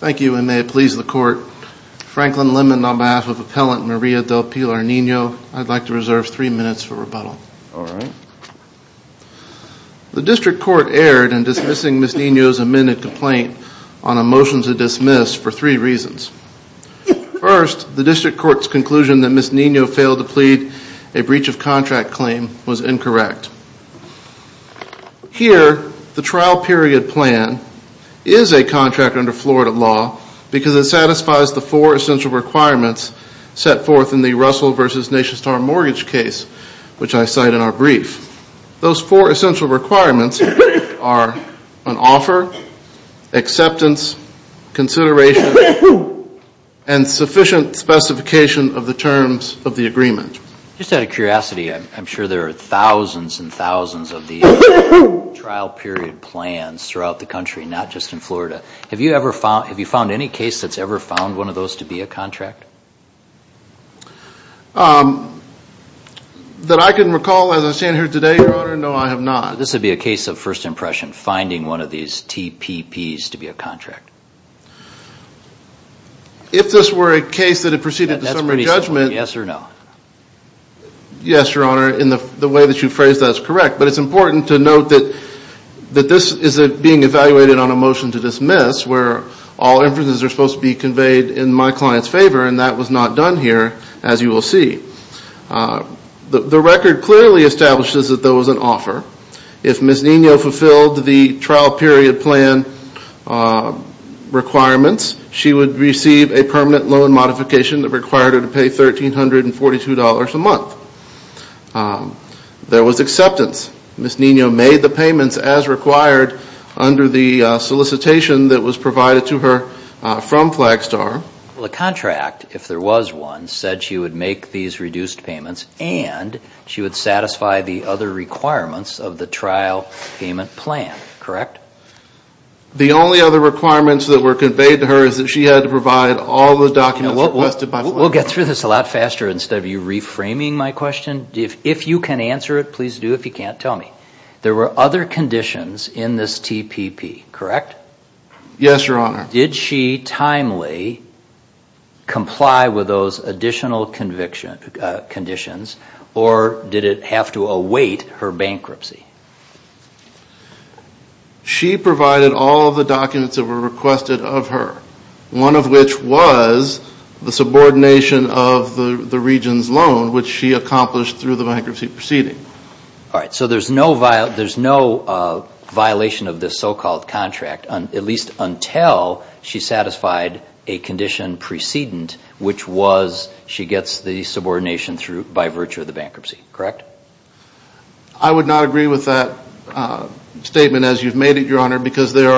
Thank you, and may it please the Court, Franklin Lemon on behalf of Appellant Maria Del Pilar Nino, I'd like to reserve three minutes for rebuttal. The District Court erred in dismissing Ms. Nino's amended complaint on a motion to dismiss for three reasons. First, the District Court's conclusion that Ms. Nino failed to plead a breach of contract claim was incorrect. Here, the trial period plan is a contract under Florida law because it satisfies the four essential requirements set forth in the Russell v. NationStar mortgage case, which I cite in our brief. Those four essential requirements are an offer, acceptance, consideration, and sufficient specification of the terms of the agreement. Just out of curiosity, I'm sure there are thousands and thousands of these trial period plans throughout the country, not just in Florida. Have you found any case that's ever found one of those to be a contract? That I can recall as I stand here today, Your Honor, no, I have not. This would be a case of first impression, finding one of these TPPs to be a contract. If this were a case that had proceeded to summary judgment, yes, Your Honor, in the way that you phrased that is correct. But it's important to note that this is being evaluated on a motion to dismiss, where all inferences are supposed to be conveyed in my client's favor, and that was not done here, as you will see. The record clearly establishes that there was an offer. If Ms. Nino fulfilled the trial period plan requirements, she would receive a permanent loan modification that required her to pay $1,342 a month. There was acceptance. Ms. Nino made the payments as required under the solicitation that was provided to her from Flagstar. The contract, if there was one, said she would make these reduced payments, and she would satisfy the other requirements of the trial payment plan, correct? The only other requirements that were conveyed to her is that she had to provide all the documents requested by Flagstar. We'll get through this a lot faster instead of you reframing my question. If you can answer it, please do. If you can't, tell me. There were other conditions in this TPP, correct? Yes, Your Honor. Did she timely comply with those additional conditions, or did it have to await her bankruptcy? She provided all of the documents that were requested of her, one of which was the subordination of the region's loan, which she accomplished through the bankruptcy proceeding. All right, so there's no violation of this so-called contract, at least until she satisfied a condition precedent, which was she gets the subordination by virtue of the bankruptcy, correct? I would not agree with that statement as you've made it, Your Honor, because there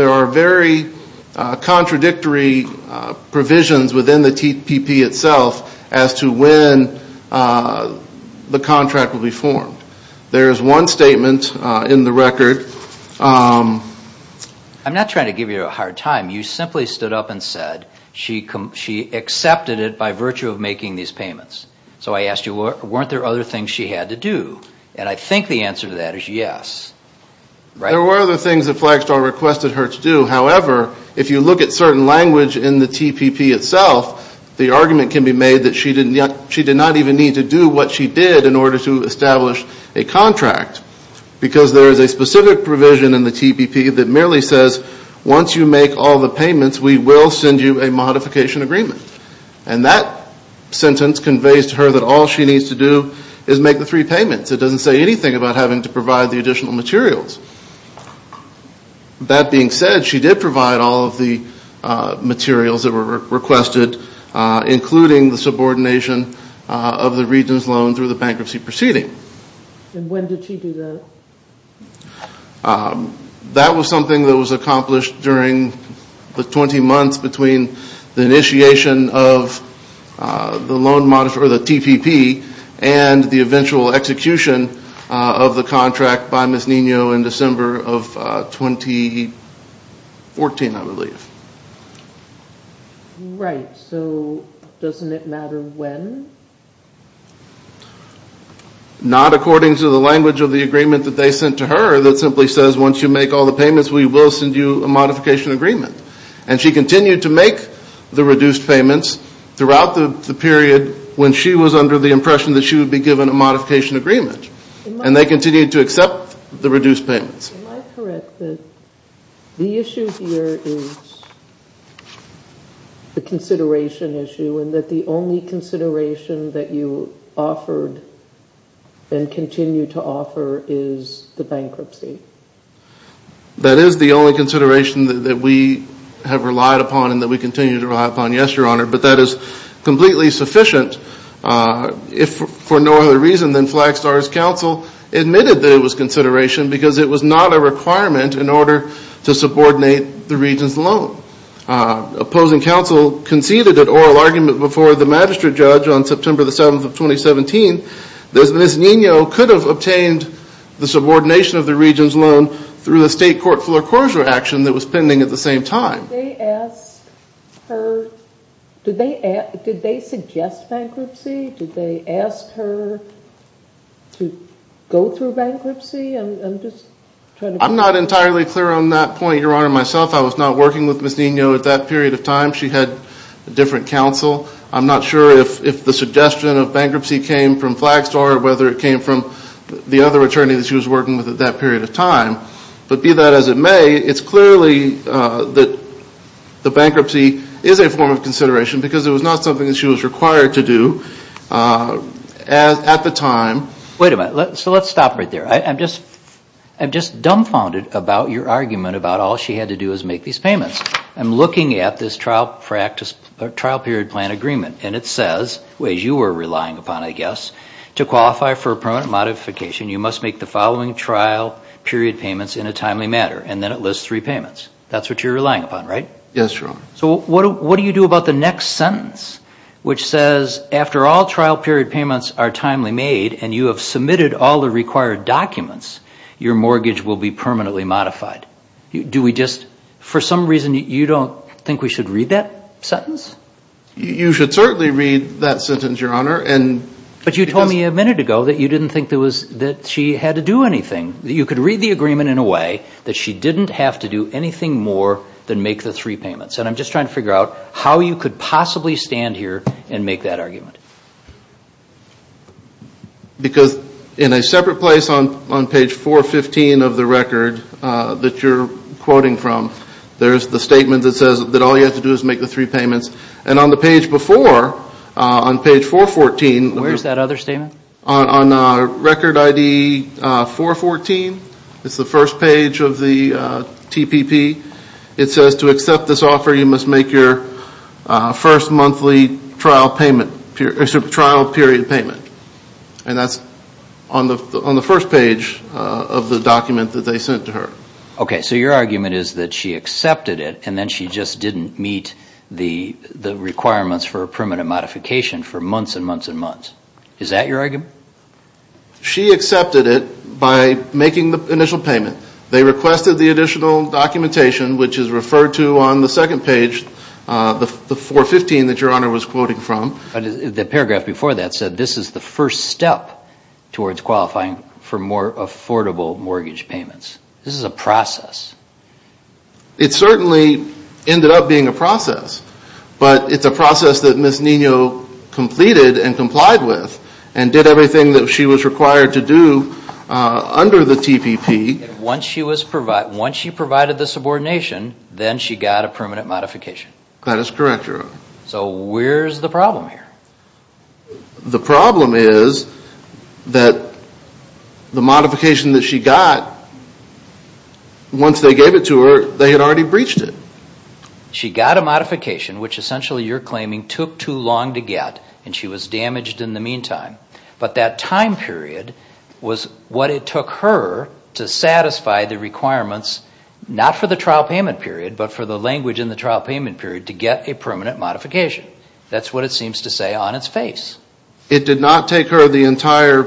are very contradictory provisions within the TPP itself as to when the contract will be formed. There is one statement in the record. I'm not trying to give you a hard time. You simply stood up and said she accepted it by virtue of making these payments. So I asked you, weren't there other things she had to do? And I think the answer to that is yes. There were other things that Flagstaff requested her to do. However, if you look at certain language in the TPP itself, the argument can be made that she did not even need to do what she did in order to establish a contract because there is a specific provision in the TPP that merely says once you make all the payments, we will send you a modification agreement. And that sentence conveys to her that all she needs to do is make the three payments. It doesn't say anything about having to provide the additional materials. That being said, she did provide all of the materials that were requested, including the subordination of the Regents' loan through the bankruptcy proceeding. And when did she do that? That was something that was accomplished during the 20 months between the initiation of the TPP and the eventual execution of the contract by Ms. Nino in December of 2014, I believe. Right. So doesn't it matter when? Not according to the language of the agreement that they sent to her that simply says once you make all the payments, we will send you a modification agreement. And she continued to make the reduced payments throughout the period when she was under the impression that she would be given a modification agreement. And they continued to accept the reduced payments. Am I correct that the issue here is the consideration issue and that the only consideration that you offered and continue to offer is the bankruptcy? That is the only consideration that we have relied upon and that we continue to rely upon, yes, Your Honor. But that is completely sufficient. If for no other reason than Flagstar's counsel admitted that it was consideration because it was not a requirement in order to subordinate the Regents' loan. Opposing counsel conceded an oral argument before the magistrate judge on September the 7th of 2017 that Ms. Nino could have obtained the subordination of the Regents' loan through a state court foreclosure action that was pending at the same time. Did they ask her, did they suggest bankruptcy? Did they ask her to go through bankruptcy? I was not working with Ms. Nino at that period of time. She had a different counsel. I'm not sure if the suggestion of bankruptcy came from Flagstar or whether it came from the other attorney that she was working with at that period of time. But be that as it may, it's clearly that the bankruptcy is a form of consideration because it was not something that she was required to do at the time. Wait a minute. So let's stop right there. I'm just dumbfounded about your argument about all she had to do was make these payments. I'm looking at this trial period plan agreement and it says, which you were relying upon I guess, to qualify for a permanent modification you must make the following trial period payments in a timely manner. And then it lists three payments. That's what you're relying upon, right? Yes, Your Honor. So what do you do about the next sentence which says, after all trial period payments are timely made and you have submitted all the required documents, your mortgage will be permanently modified. Do we just, for some reason, you don't think we should read that sentence? You should certainly read that sentence, Your Honor. But you told me a minute ago that you didn't think that she had to do anything. You could read the agreement in a way that she didn't have to do anything more than make the three payments. And I'm just trying to figure out how you could possibly stand here and make that argument. Because in a separate place on page 415 of the record that you're quoting from, there's the statement that says that all you have to do is make the three payments. And on the page before, on page 414, Where's that other statement? On record ID 414, it's the first page of the TPP, it says to accept this offer you must make your first monthly trial period payment. And that's on the first page of the document that they sent to her. Okay, so your argument is that she accepted it, and then she just didn't meet the requirements for a permanent modification for months and months and months. Is that your argument? She accepted it by making the initial payment. They requested the additional documentation, which is referred to on the second page, the 415 that your Honor was quoting from. The paragraph before that said this is the first step towards qualifying for more affordable mortgage payments. This is a process. It certainly ended up being a process. But it's a process that Ms. Nino completed and complied with and did everything that she was required to do under the TPP. Once she provided the subordination, then she got a permanent modification. That is correct, Your Honor. So where's the problem here? The problem is that the modification that she got, once they gave it to her, they had already breached it. She got a modification, which essentially you're claiming took too long to get, and she was damaged in the meantime. But that time period was what it took her to satisfy the requirements, not for the trial payment period, but for the language in the trial payment period to get a permanent modification. That's what it seems to say on its face. It did not take her the entire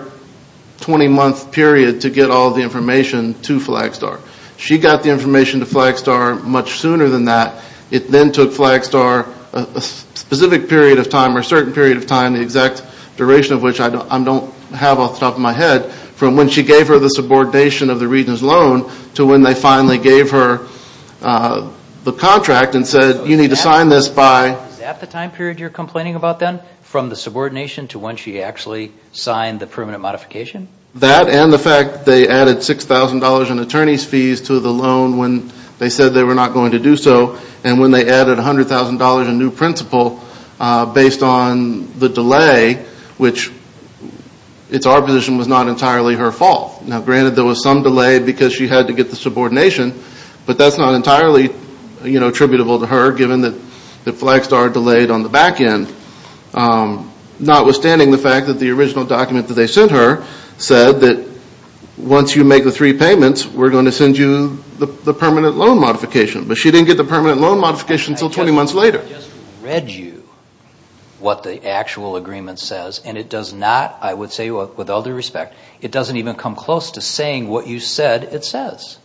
20-month period to get all the information to Flagstar. She got the information to Flagstar much sooner than that. It then took Flagstar a specific period of time or a certain period of time, the exact duration of which I don't have off the top of my head, from when she gave her the subordination of the Regents' loan to when they finally gave her the contract and said, you need to sign this by— Is that the time period you're complaining about then? From the subordination to when she actually signed the permanent modification? That and the fact they added $6,000 in attorney's fees to the loan when they said they were not going to do so, and when they added $100,000 in new principal based on the delay, which it's our position was not entirely her fault. Now, granted there was some delay because she had to get the subordination, but that's not entirely attributable to her given that Flagstar delayed on the back end. Notwithstanding the fact that the original document that they sent her said that once you make the three payments, we're going to send you the permanent loan modification, but she didn't get the permanent loan modification until 20 months later. I just read you what the actual agreement says, and it does not, I would say with all due respect, it doesn't even come close to saying what you said it says.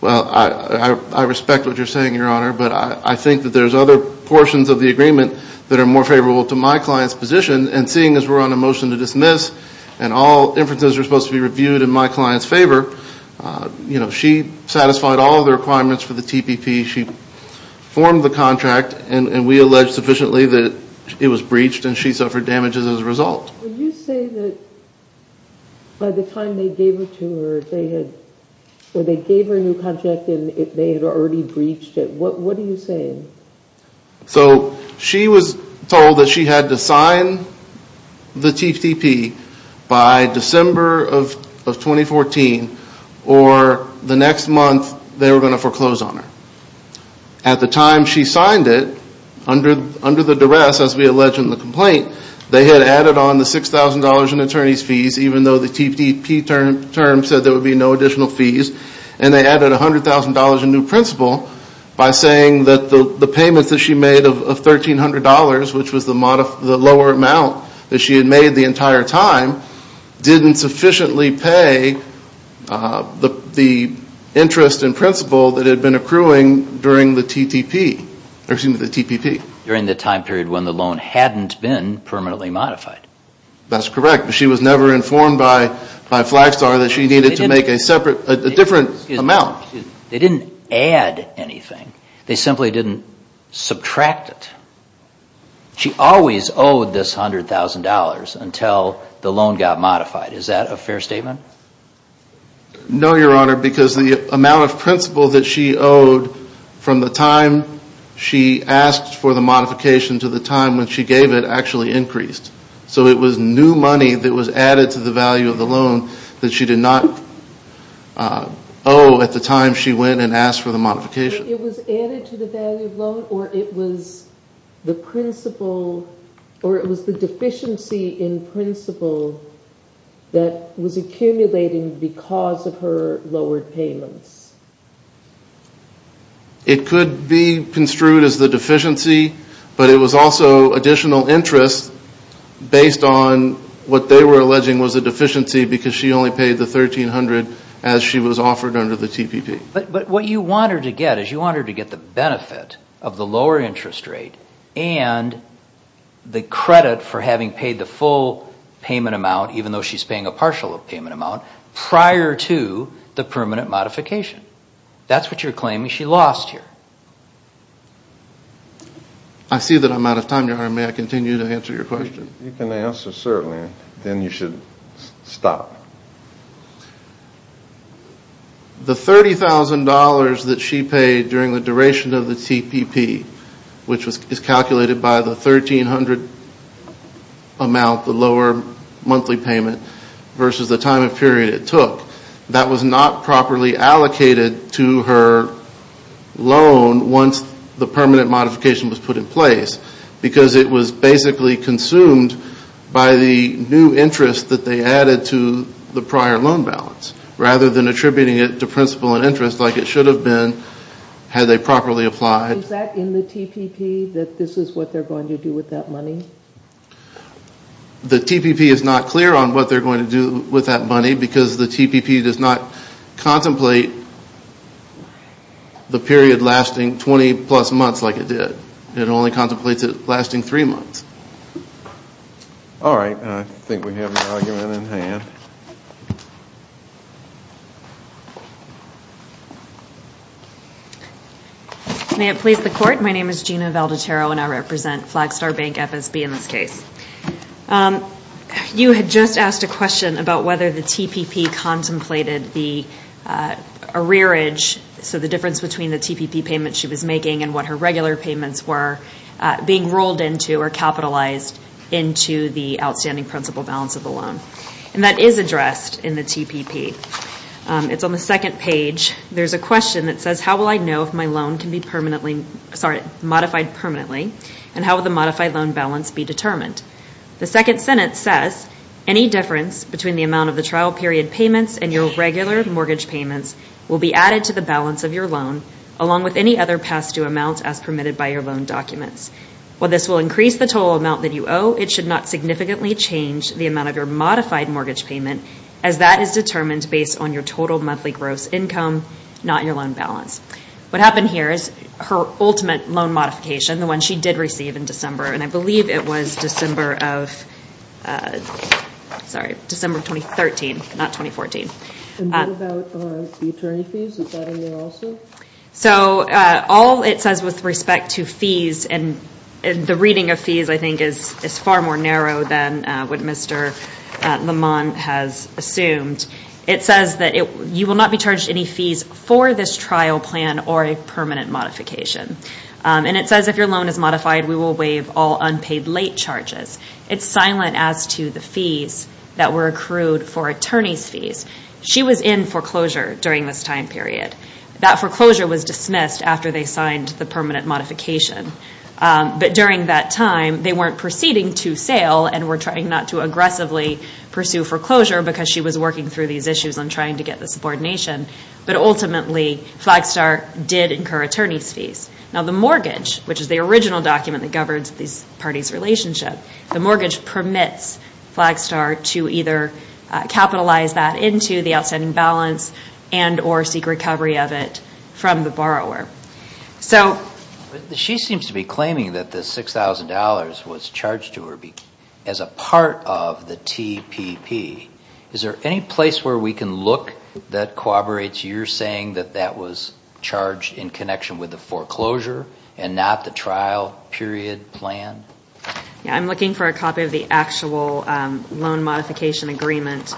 Well, I respect what you're saying, Your Honor, but I think that there's other portions of the agreement that are more favorable to my client's position, and seeing as we're on a motion to dismiss and all inferences are supposed to be reviewed in my client's favor, you know, she satisfied all of the requirements for the TPP. She formed the contract, and we allege sufficiently that it was breached, and she suffered damages as a result. When you say that by the time they gave it to her, they had, when they gave her a new contract and they had already breached it, what are you saying? So she was told that she had to sign the TPP by December of 2014, or the next month they were going to foreclose on her. At the time she signed it, under the duress, as we allege in the complaint, they had added on the $6,000 in attorney's fees, even though the TPP term said there would be no additional fees, and they added $100,000 in new principal by saying that the payments that she made of $1,300, which was the lower amount that she had made the entire time, didn't sufficiently pay the interest in principal that had been accruing during the TPP. During the time period when the loan hadn't been permanently modified. That's correct. She was never informed by Flagstar that she needed to make a separate, a different amount. They didn't add anything. They simply didn't subtract it. She always owed this $100,000 until the loan got modified. Is that a fair statement? No, Your Honor, because the amount of principal that she owed from the time she asked for the modification to the time when she gave it actually increased. So it was new money that was added to the value of the loan that she did not owe at the time she went and asked for the modification. It was added to the value of the loan, or it was the principal, or it was the deficiency in principal that was accumulating because of her lowered payments? It could be construed as the deficiency, but it was also additional interest based on what they were alleging was a deficiency because she only paid the $1,300 as she was offered under the TPP. But what you want her to get is you want her to get the benefit of the lower interest rate and the credit for having paid the full payment amount, even though she's paying a partial payment amount, prior to the permanent modification. That's what you're claiming she lost here. I see that I'm out of time, Your Honor. May I continue to answer your question? You can answer, certainly, then you should stop. The $30,000 that she paid during the duration of the TPP, which is calculated by the $1,300 amount, the lower monthly payment, versus the time and period it took, that was not properly allocated to her loan once the permanent modification was put in place because it was basically consumed by the new interest that they added to the prior loan balance, rather than attributing it to principal and interest like it should have been had they properly applied. Is that in the TPP, that this is what they're going to do with that money? The TPP is not clear on what they're going to do with that money because the TPP does not contemplate the period lasting 20-plus months like it did. It only contemplates it lasting three months. All right. I think we have an argument in hand. May it please the Court? My name is Gina Valdatero and I represent Flagstar Bank FSB in this case. You had just asked a question about whether the TPP contemplated the arrearage, so the difference between the TPP payment she was making and what her regular payments were, being rolled into or capitalized into the outstanding principal balance of the loan. And that is addressed in the TPP. It's on the second page. There's a question that says, How will I know if my loan can be modified permanently and how will the modified loan balance be determined? The second sentence says, Any difference between the amount of the trial period payments and your regular mortgage payments will be added to the balance of your loan along with any other past due amounts as permitted by your loan documents. While this will increase the total amount that you owe, it should not significantly change the amount of your modified mortgage payment as that is determined based on your total monthly gross income, not your loan balance. What happened here is her ultimate loan modification, the one she did receive in December, and I believe it was December of 2013, not 2014. And what about the attorney fees? Is that in there also? So all it says with respect to fees, and the reading of fees I think is far more narrow than what Mr. Lamont has assumed, it says that you will not be charged any fees for this trial plan or a permanent modification. And it says if your loan is modified, we will waive all unpaid late charges. It's silent as to the fees that were accrued for attorney's fees. She was in foreclosure during this time period. That foreclosure was dismissed after they signed the permanent modification. But during that time, they weren't proceeding to sale and were trying not to aggressively pursue foreclosure because she was working through these issues and trying to get the subordination. But ultimately, Flagstar did incur attorney's fees. Now the mortgage, which is the original document that governs these parties' relationship, the mortgage permits Flagstar to either capitalize that into the outstanding balance and or seek recovery of it from the borrower. She seems to be claiming that the $6,000 was charged to her as a part of the TPP. Is there any place where we can look that corroborates your saying that that was charged in connection with the foreclosure and not the trial period plan? I'm looking for a copy of the actual loan modification agreement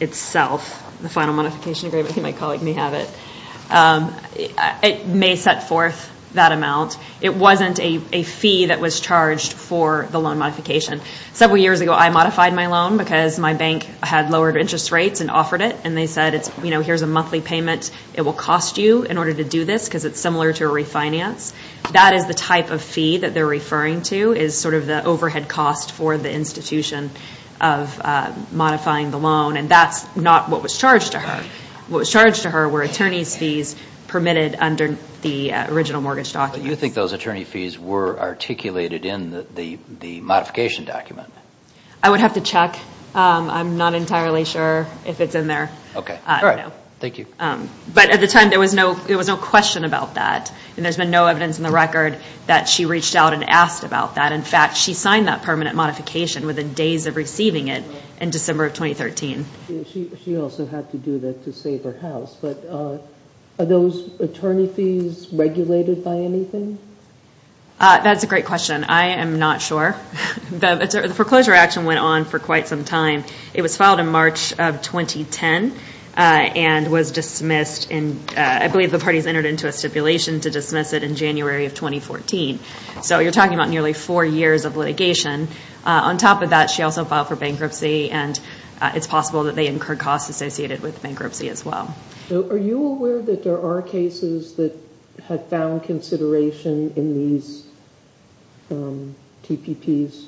itself. The final modification agreement. I think my colleague may have it. It may set forth that amount. It wasn't a fee that was charged for the loan modification. Several years ago, I modified my loan because my bank had lowered interest rates and offered it. And they said, you know, here's a monthly payment. It will cost you in order to do this because it's similar to a refinance. That is the type of fee that they're referring to is sort of the overhead cost for the institution of modifying the loan. And that's not what was charged to her. What was charged to her were attorney's fees permitted under the original mortgage document. You think those attorney fees were articulated in the modification document? I would have to check. I'm not entirely sure if it's in there. Okay. All right. Thank you. But at the time, there was no question about that. And there's been no evidence in the record that she reached out and asked about that. In fact, she signed that permanent modification within days of receiving it in December of 2013. She also had to do that to save her house. But are those attorney fees regulated by anything? That's a great question. I am not sure. The foreclosure action went on for quite some time. It was filed in March of 2010 and was dismissed. I believe the parties entered into a stipulation to dismiss it in January of 2014. So you're talking about nearly four years of litigation. On top of that, she also filed for bankruptcy. And it's possible that they incurred costs associated with bankruptcy as well. Are you aware that there are cases that have found consideration in these TPPs?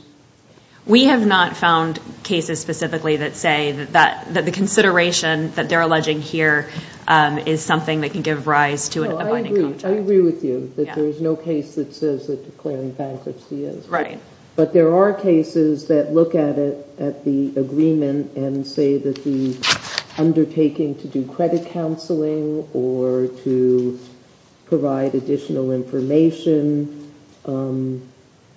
We have not found cases specifically that say that the consideration that they're alleging here is something that can give rise to a binding contract. I agree with you that there is no case that says that declaring bankruptcy is. Right. But there are cases that look at it, at the agreement, and say that the undertaking to do credit counseling or to provide additional information,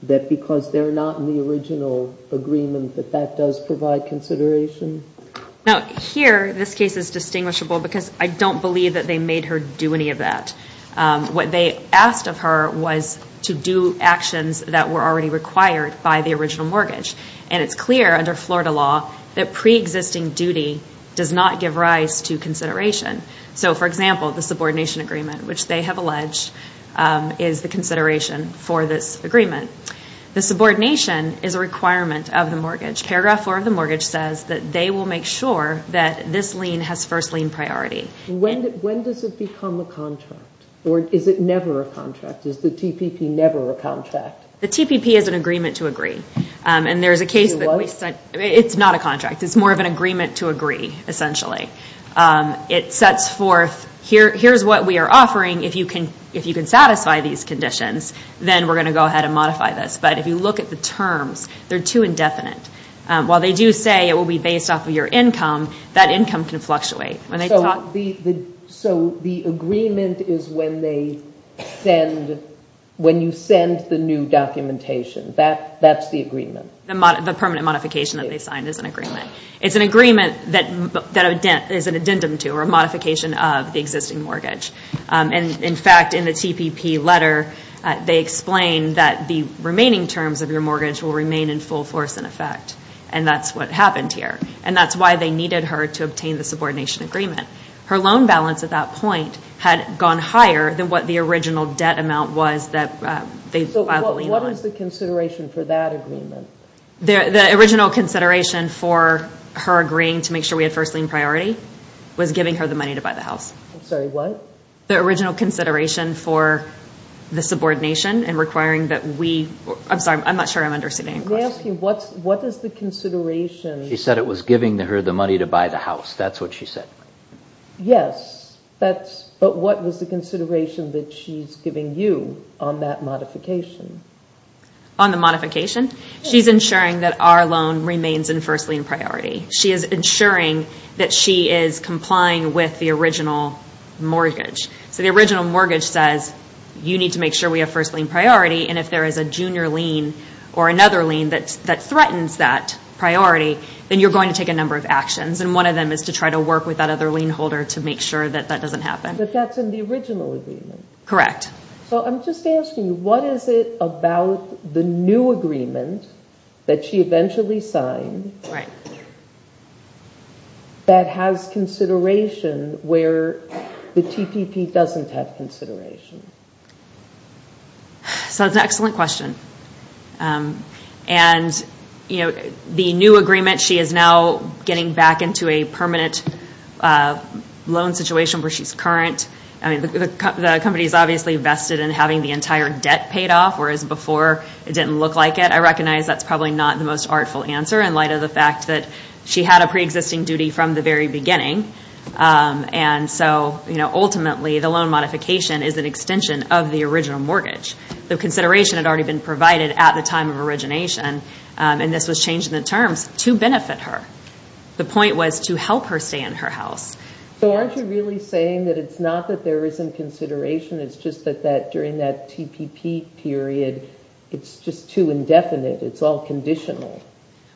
that because they're not in the original agreement, that that does provide consideration? Now, here, this case is distinguishable because I don't believe that they made her do any of that. What they asked of her was to do actions that were already required by the original mortgage. And it's clear under Florida law that preexisting duty does not give rise to consideration. So, for example, the subordination agreement, which they have alleged is the consideration for this agreement. The subordination is a requirement of the mortgage. Paragraph 4 of the mortgage says that they will make sure that this lien has first lien priority. When does it become a contract? Or is it never a contract? Is the TPP never a contract? The TPP is an agreement to agree. And there's a case that we said it's not a contract. It's more of an agreement to agree, essentially. It sets forth, here's what we are offering. If you can satisfy these conditions, then we're going to go ahead and modify this. But if you look at the terms, they're too indefinite. While they do say it will be based off of your income, that income can fluctuate. So the agreement is when you send the new documentation. That's the agreement? The permanent modification that they signed is an agreement. It's an agreement that is an addendum to or a modification of the existing mortgage. And, in fact, in the TPP letter, they explain that the remaining terms of your mortgage will remain in full force in effect. And that's what happened here. And that's why they needed her to obtain the subordination agreement. Her loan balance at that point had gone higher than what the original debt amount was that they filed the lien on. So what is the consideration for that agreement? The original consideration for her agreeing to make sure we had first lien priority was giving her the money to buy the house. I'm sorry, what? The original consideration for the subordination and requiring that we—I'm sorry, I'm not sure I'm understanding your question. Let me ask you, what is the consideration— She said it was giving her the money to buy the house. That's what she said. Yes, but what was the consideration that she's giving you on that modification? On the modification? She's ensuring that our loan remains in first lien priority. She is ensuring that she is complying with the original mortgage. So the original mortgage says you need to make sure we have first lien priority. And if there is a junior lien or another lien that threatens that priority, then you're going to take a number of actions. And one of them is to try to work with that other lien holder to make sure that that doesn't happen. But that's in the original agreement. Correct. So I'm just asking you, what is it about the new agreement that she eventually signed that has consideration where the TPP doesn't have consideration? So that's an excellent question. And, you know, the new agreement, she is now getting back into a permanent loan situation where she's current. I mean, the company is obviously vested in having the entire debt paid off, whereas before it didn't look like it. I recognize that's probably not the most artful answer in light of the fact that she had a preexisting duty from the very beginning. And so, you know, ultimately the loan modification is an extension of the original mortgage. The consideration had already been provided at the time of origination. And this was changed in the terms to benefit her. The point was to help her stay in her house. So aren't you really saying that it's not that there isn't consideration? It's just that during that TPP period, it's just too indefinite. It's all conditional.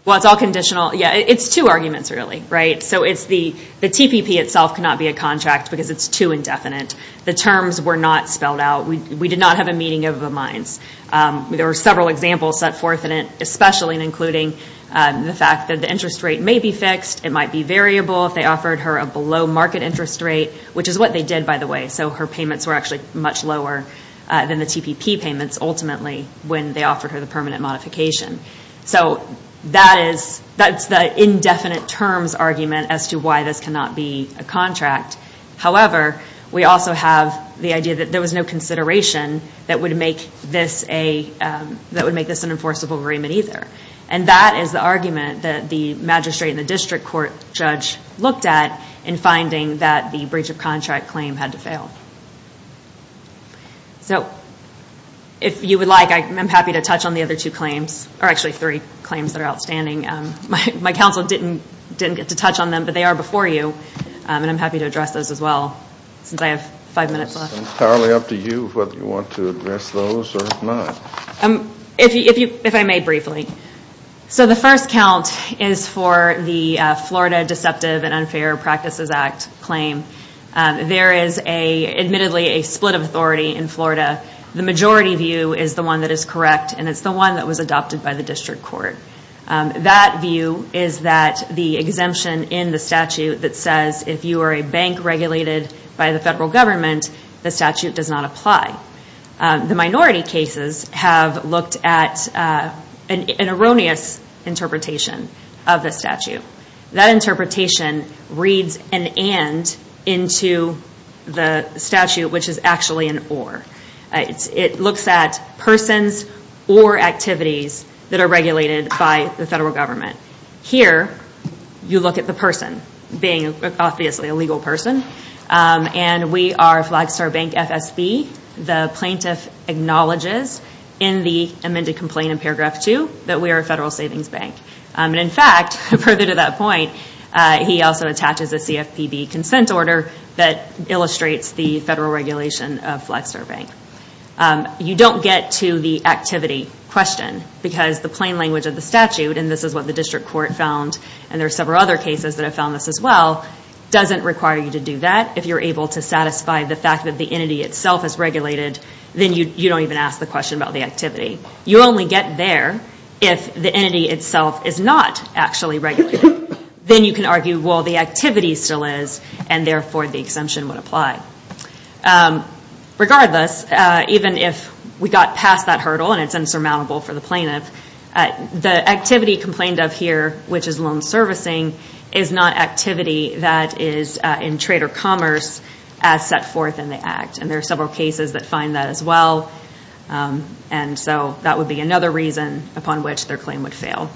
Well, it's all conditional. Yeah, it's two arguments really, right? So it's the TPP itself cannot be a contract because it's too indefinite. The terms were not spelled out. We did not have a meeting of the minds. There were several examples set forth in it, especially including the fact that the interest rate may be fixed. It might be variable if they offered her a below market interest rate, which is what they did, by the way. So her payments were actually much lower than the TPP payments ultimately when they offered her the permanent modification. So that's the indefinite terms argument as to why this cannot be a contract. However, we also have the idea that there was no consideration that would make this an enforceable agreement either. And that is the argument that the magistrate and the district court judge looked at in finding that the breach of contract claim had to fail. So if you would like, I'm happy to touch on the other two claims, or actually three claims that are outstanding. My counsel didn't get to touch on them, but they are before you, and I'm happy to address those as well since I have five minutes left. It's entirely up to you whether you want to address those or not. If I may briefly. So the first count is for the Florida Deceptive and Unfair Practices Act claim. There is admittedly a split of authority in Florida. The majority view is the one that is correct, and it's the one that was adopted by the district court. That view is that the exemption in the statute that says if you are a bank regulated by the federal government, the statute does not apply. The minority cases have looked at an erroneous interpretation of the statute. That interpretation reads an and into the statute, which is actually an or. It looks at persons or activities that are regulated by the federal government. Here, you look at the person being obviously a legal person, and we are Flagstar Bank FSB. The plaintiff acknowledges in the amended complaint in paragraph two that we are a federal savings bank. In fact, further to that point, he also attaches a CFPB consent order that illustrates the federal regulation of Flagstar Bank. You don't get to the activity question because the plain language of the statute, and this is what the district court found, and there are several other cases that have found this as well, doesn't require you to do that. If you are able to satisfy the fact that the entity itself is regulated, then you don't even ask the question about the activity. You only get there if the entity itself is not actually regulated. Then you can argue, well, the activity still is, and therefore the exemption would apply. Regardless, even if we got past that hurdle, and it's insurmountable for the plaintiff, the activity complained of here, which is loan servicing, is not activity that is in trade or commerce as set forth in the act. There are several cases that find that as well. That would be another reason upon which their claim would fail.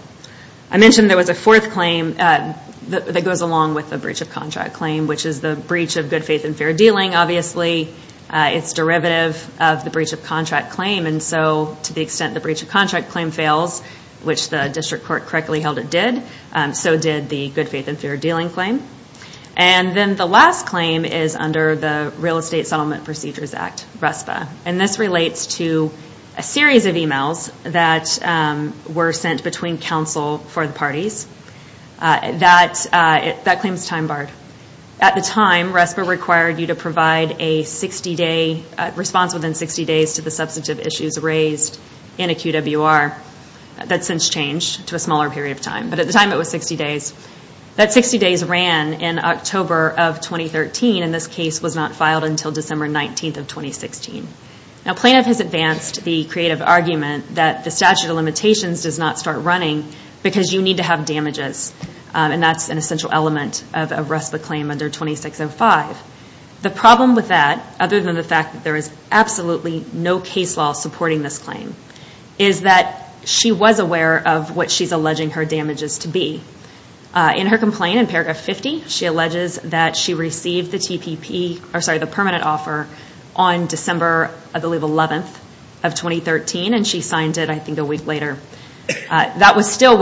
I mentioned there was a fourth claim that goes along with the breach of contract claim, which is the breach of good faith and fair dealing. Obviously, it's derivative of the breach of contract claim. To the extent the breach of contract claim fails, which the district court correctly held it did, so did the good faith and fair dealing claim. Then the last claim is under the Real Estate Settlement Procedures Act, RESPA. This relates to a series of emails that were sent between counsel for the parties. That claim is time barred. At the time, RESPA required you to provide a response within 60 days to the substantive issues raised in a QWR. That's since changed to a smaller period of time, but at the time it was 60 days. That 60 days ran in October of 2013, and this case was not filed until December 19th of 2016. A plaintiff has advanced the creative argument that the statute of limitations does not start running because you need to have damages. That's an essential element of a RESPA claim under 2605. The problem with that, other than the fact that there is absolutely no case law supporting this claim, is that she was aware of what she's alleging her damages to be. In her complaint, in paragraph 50, she alleges that she received the permanent offer on December 11th of 2013, and she signed it a week later. That was still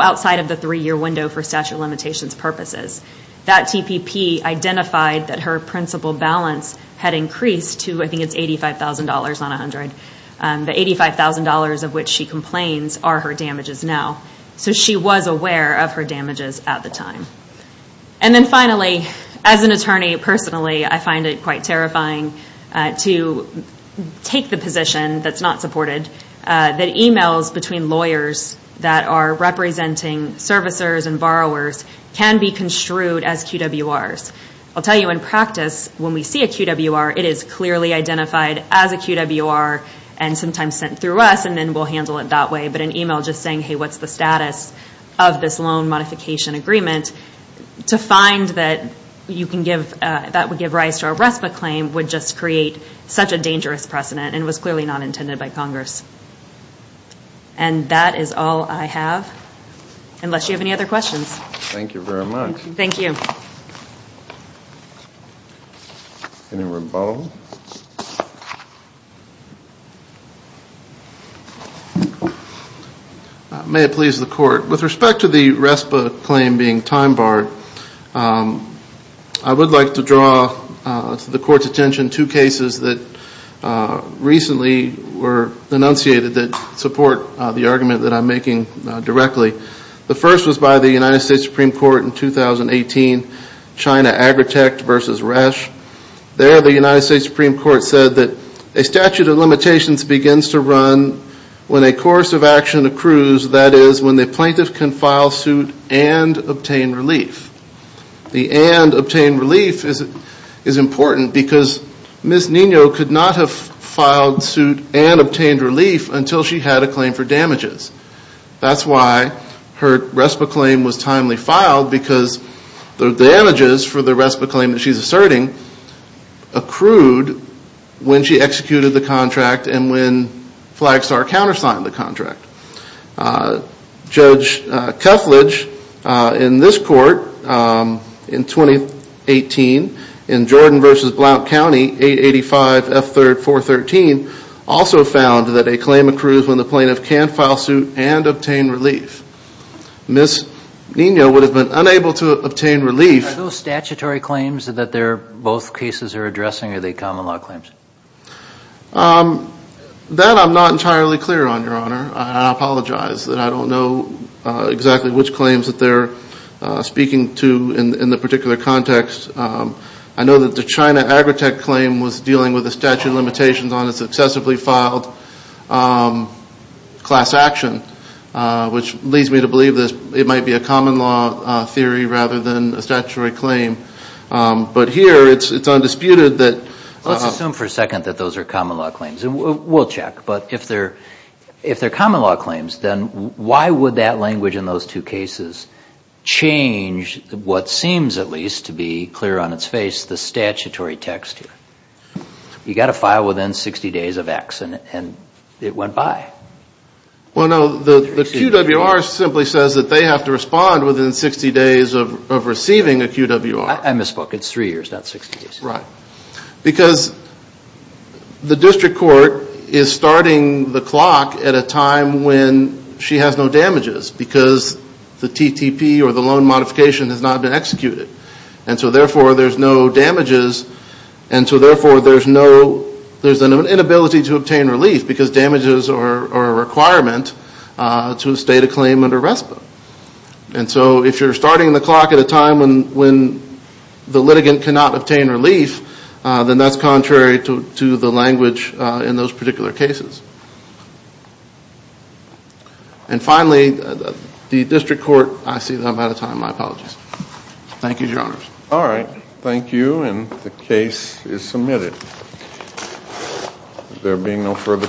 outside of the three-year window for statute of limitations purposes. That TPP identified that her principal balance had increased to $85,000 on 100. The $85,000 of which she complains are her damages now. So she was aware of her damages at the time. And then finally, as an attorney personally, I find it quite terrifying to take the position that's not supported, that emails between lawyers that are representing servicers and borrowers can be construed as QWRs. I'll tell you, in practice, when we see a QWR, it is clearly identified as a QWR and sometimes sent through us, and then we'll handle it that way. But an email just saying, hey, what's the status of this loan modification agreement, to find that you can give, that would give rise to a RESPA claim would just create such a dangerous precedent and was clearly not intended by Congress. And that is all I have, unless you have any other questions. Thank you very much. Thank you. May it please the Court. With respect to the RESPA claim being time barred, I would like to draw to the Court's attention two cases that recently were enunciated that support the argument that I'm making directly. The first was by the United States Supreme Court in 2018, China Agritech versus Resch. There, the United States Supreme Court said that a statute of limitations begins to run when a course of action accrues, that is, when the plaintiff can file suit and obtain relief. The and obtain relief is important because Ms. Nino could not have filed suit and obtained relief until she had a claim for damages. That's why her RESPA claim was timely filed because the damages for the RESPA claim that she's asserting accrued when she executed the contract and when Flagstar countersigned the contract. Judge Keflage, in this Court, in 2018, in Jordan versus Blount County, 885 F. 3rd 413, also found that a claim accrues when the plaintiff can file suit and obtain relief. Ms. Nino would have been unable to obtain relief. Are those statutory claims that both cases are addressing or are they common law claims? That I'm not entirely clear on, Your Honor. I apologize that I don't know exactly which claims that they're speaking to in the particular context. I know that the China Agritech claim was dealing with a statute of limitations on a successively filed class action, which leads me to believe that it might be a common law theory rather than a statutory claim. But here, it's undisputed that- Let's assume for a second that those are common law claims. We'll check. But if they're common law claims, then why would that language in those two cases change what seems, at least, to be clear on its face, the statutory text here? You got to file within 60 days of X and it went by. Well, no, the QWR simply says that they have to respond within 60 days of receiving a QWR. I misspoke. It's three years, not 60 days. Right. Because the district court is starting the clock at a time when she has no damages because the TTP or the loan modification has not been executed. And so, therefore, there's no damages. And so, therefore, there's an inability to obtain relief because damages are a requirement to state a claim under RESPA. And so, if you're starting the clock at a time when the litigant cannot obtain relief, then that's contrary to the language in those particular cases. And finally, the district court- I see that I'm out of time. My apologies. Thank you, Your Honors. All right. Thank you, and the case is submitted. There being no further questions-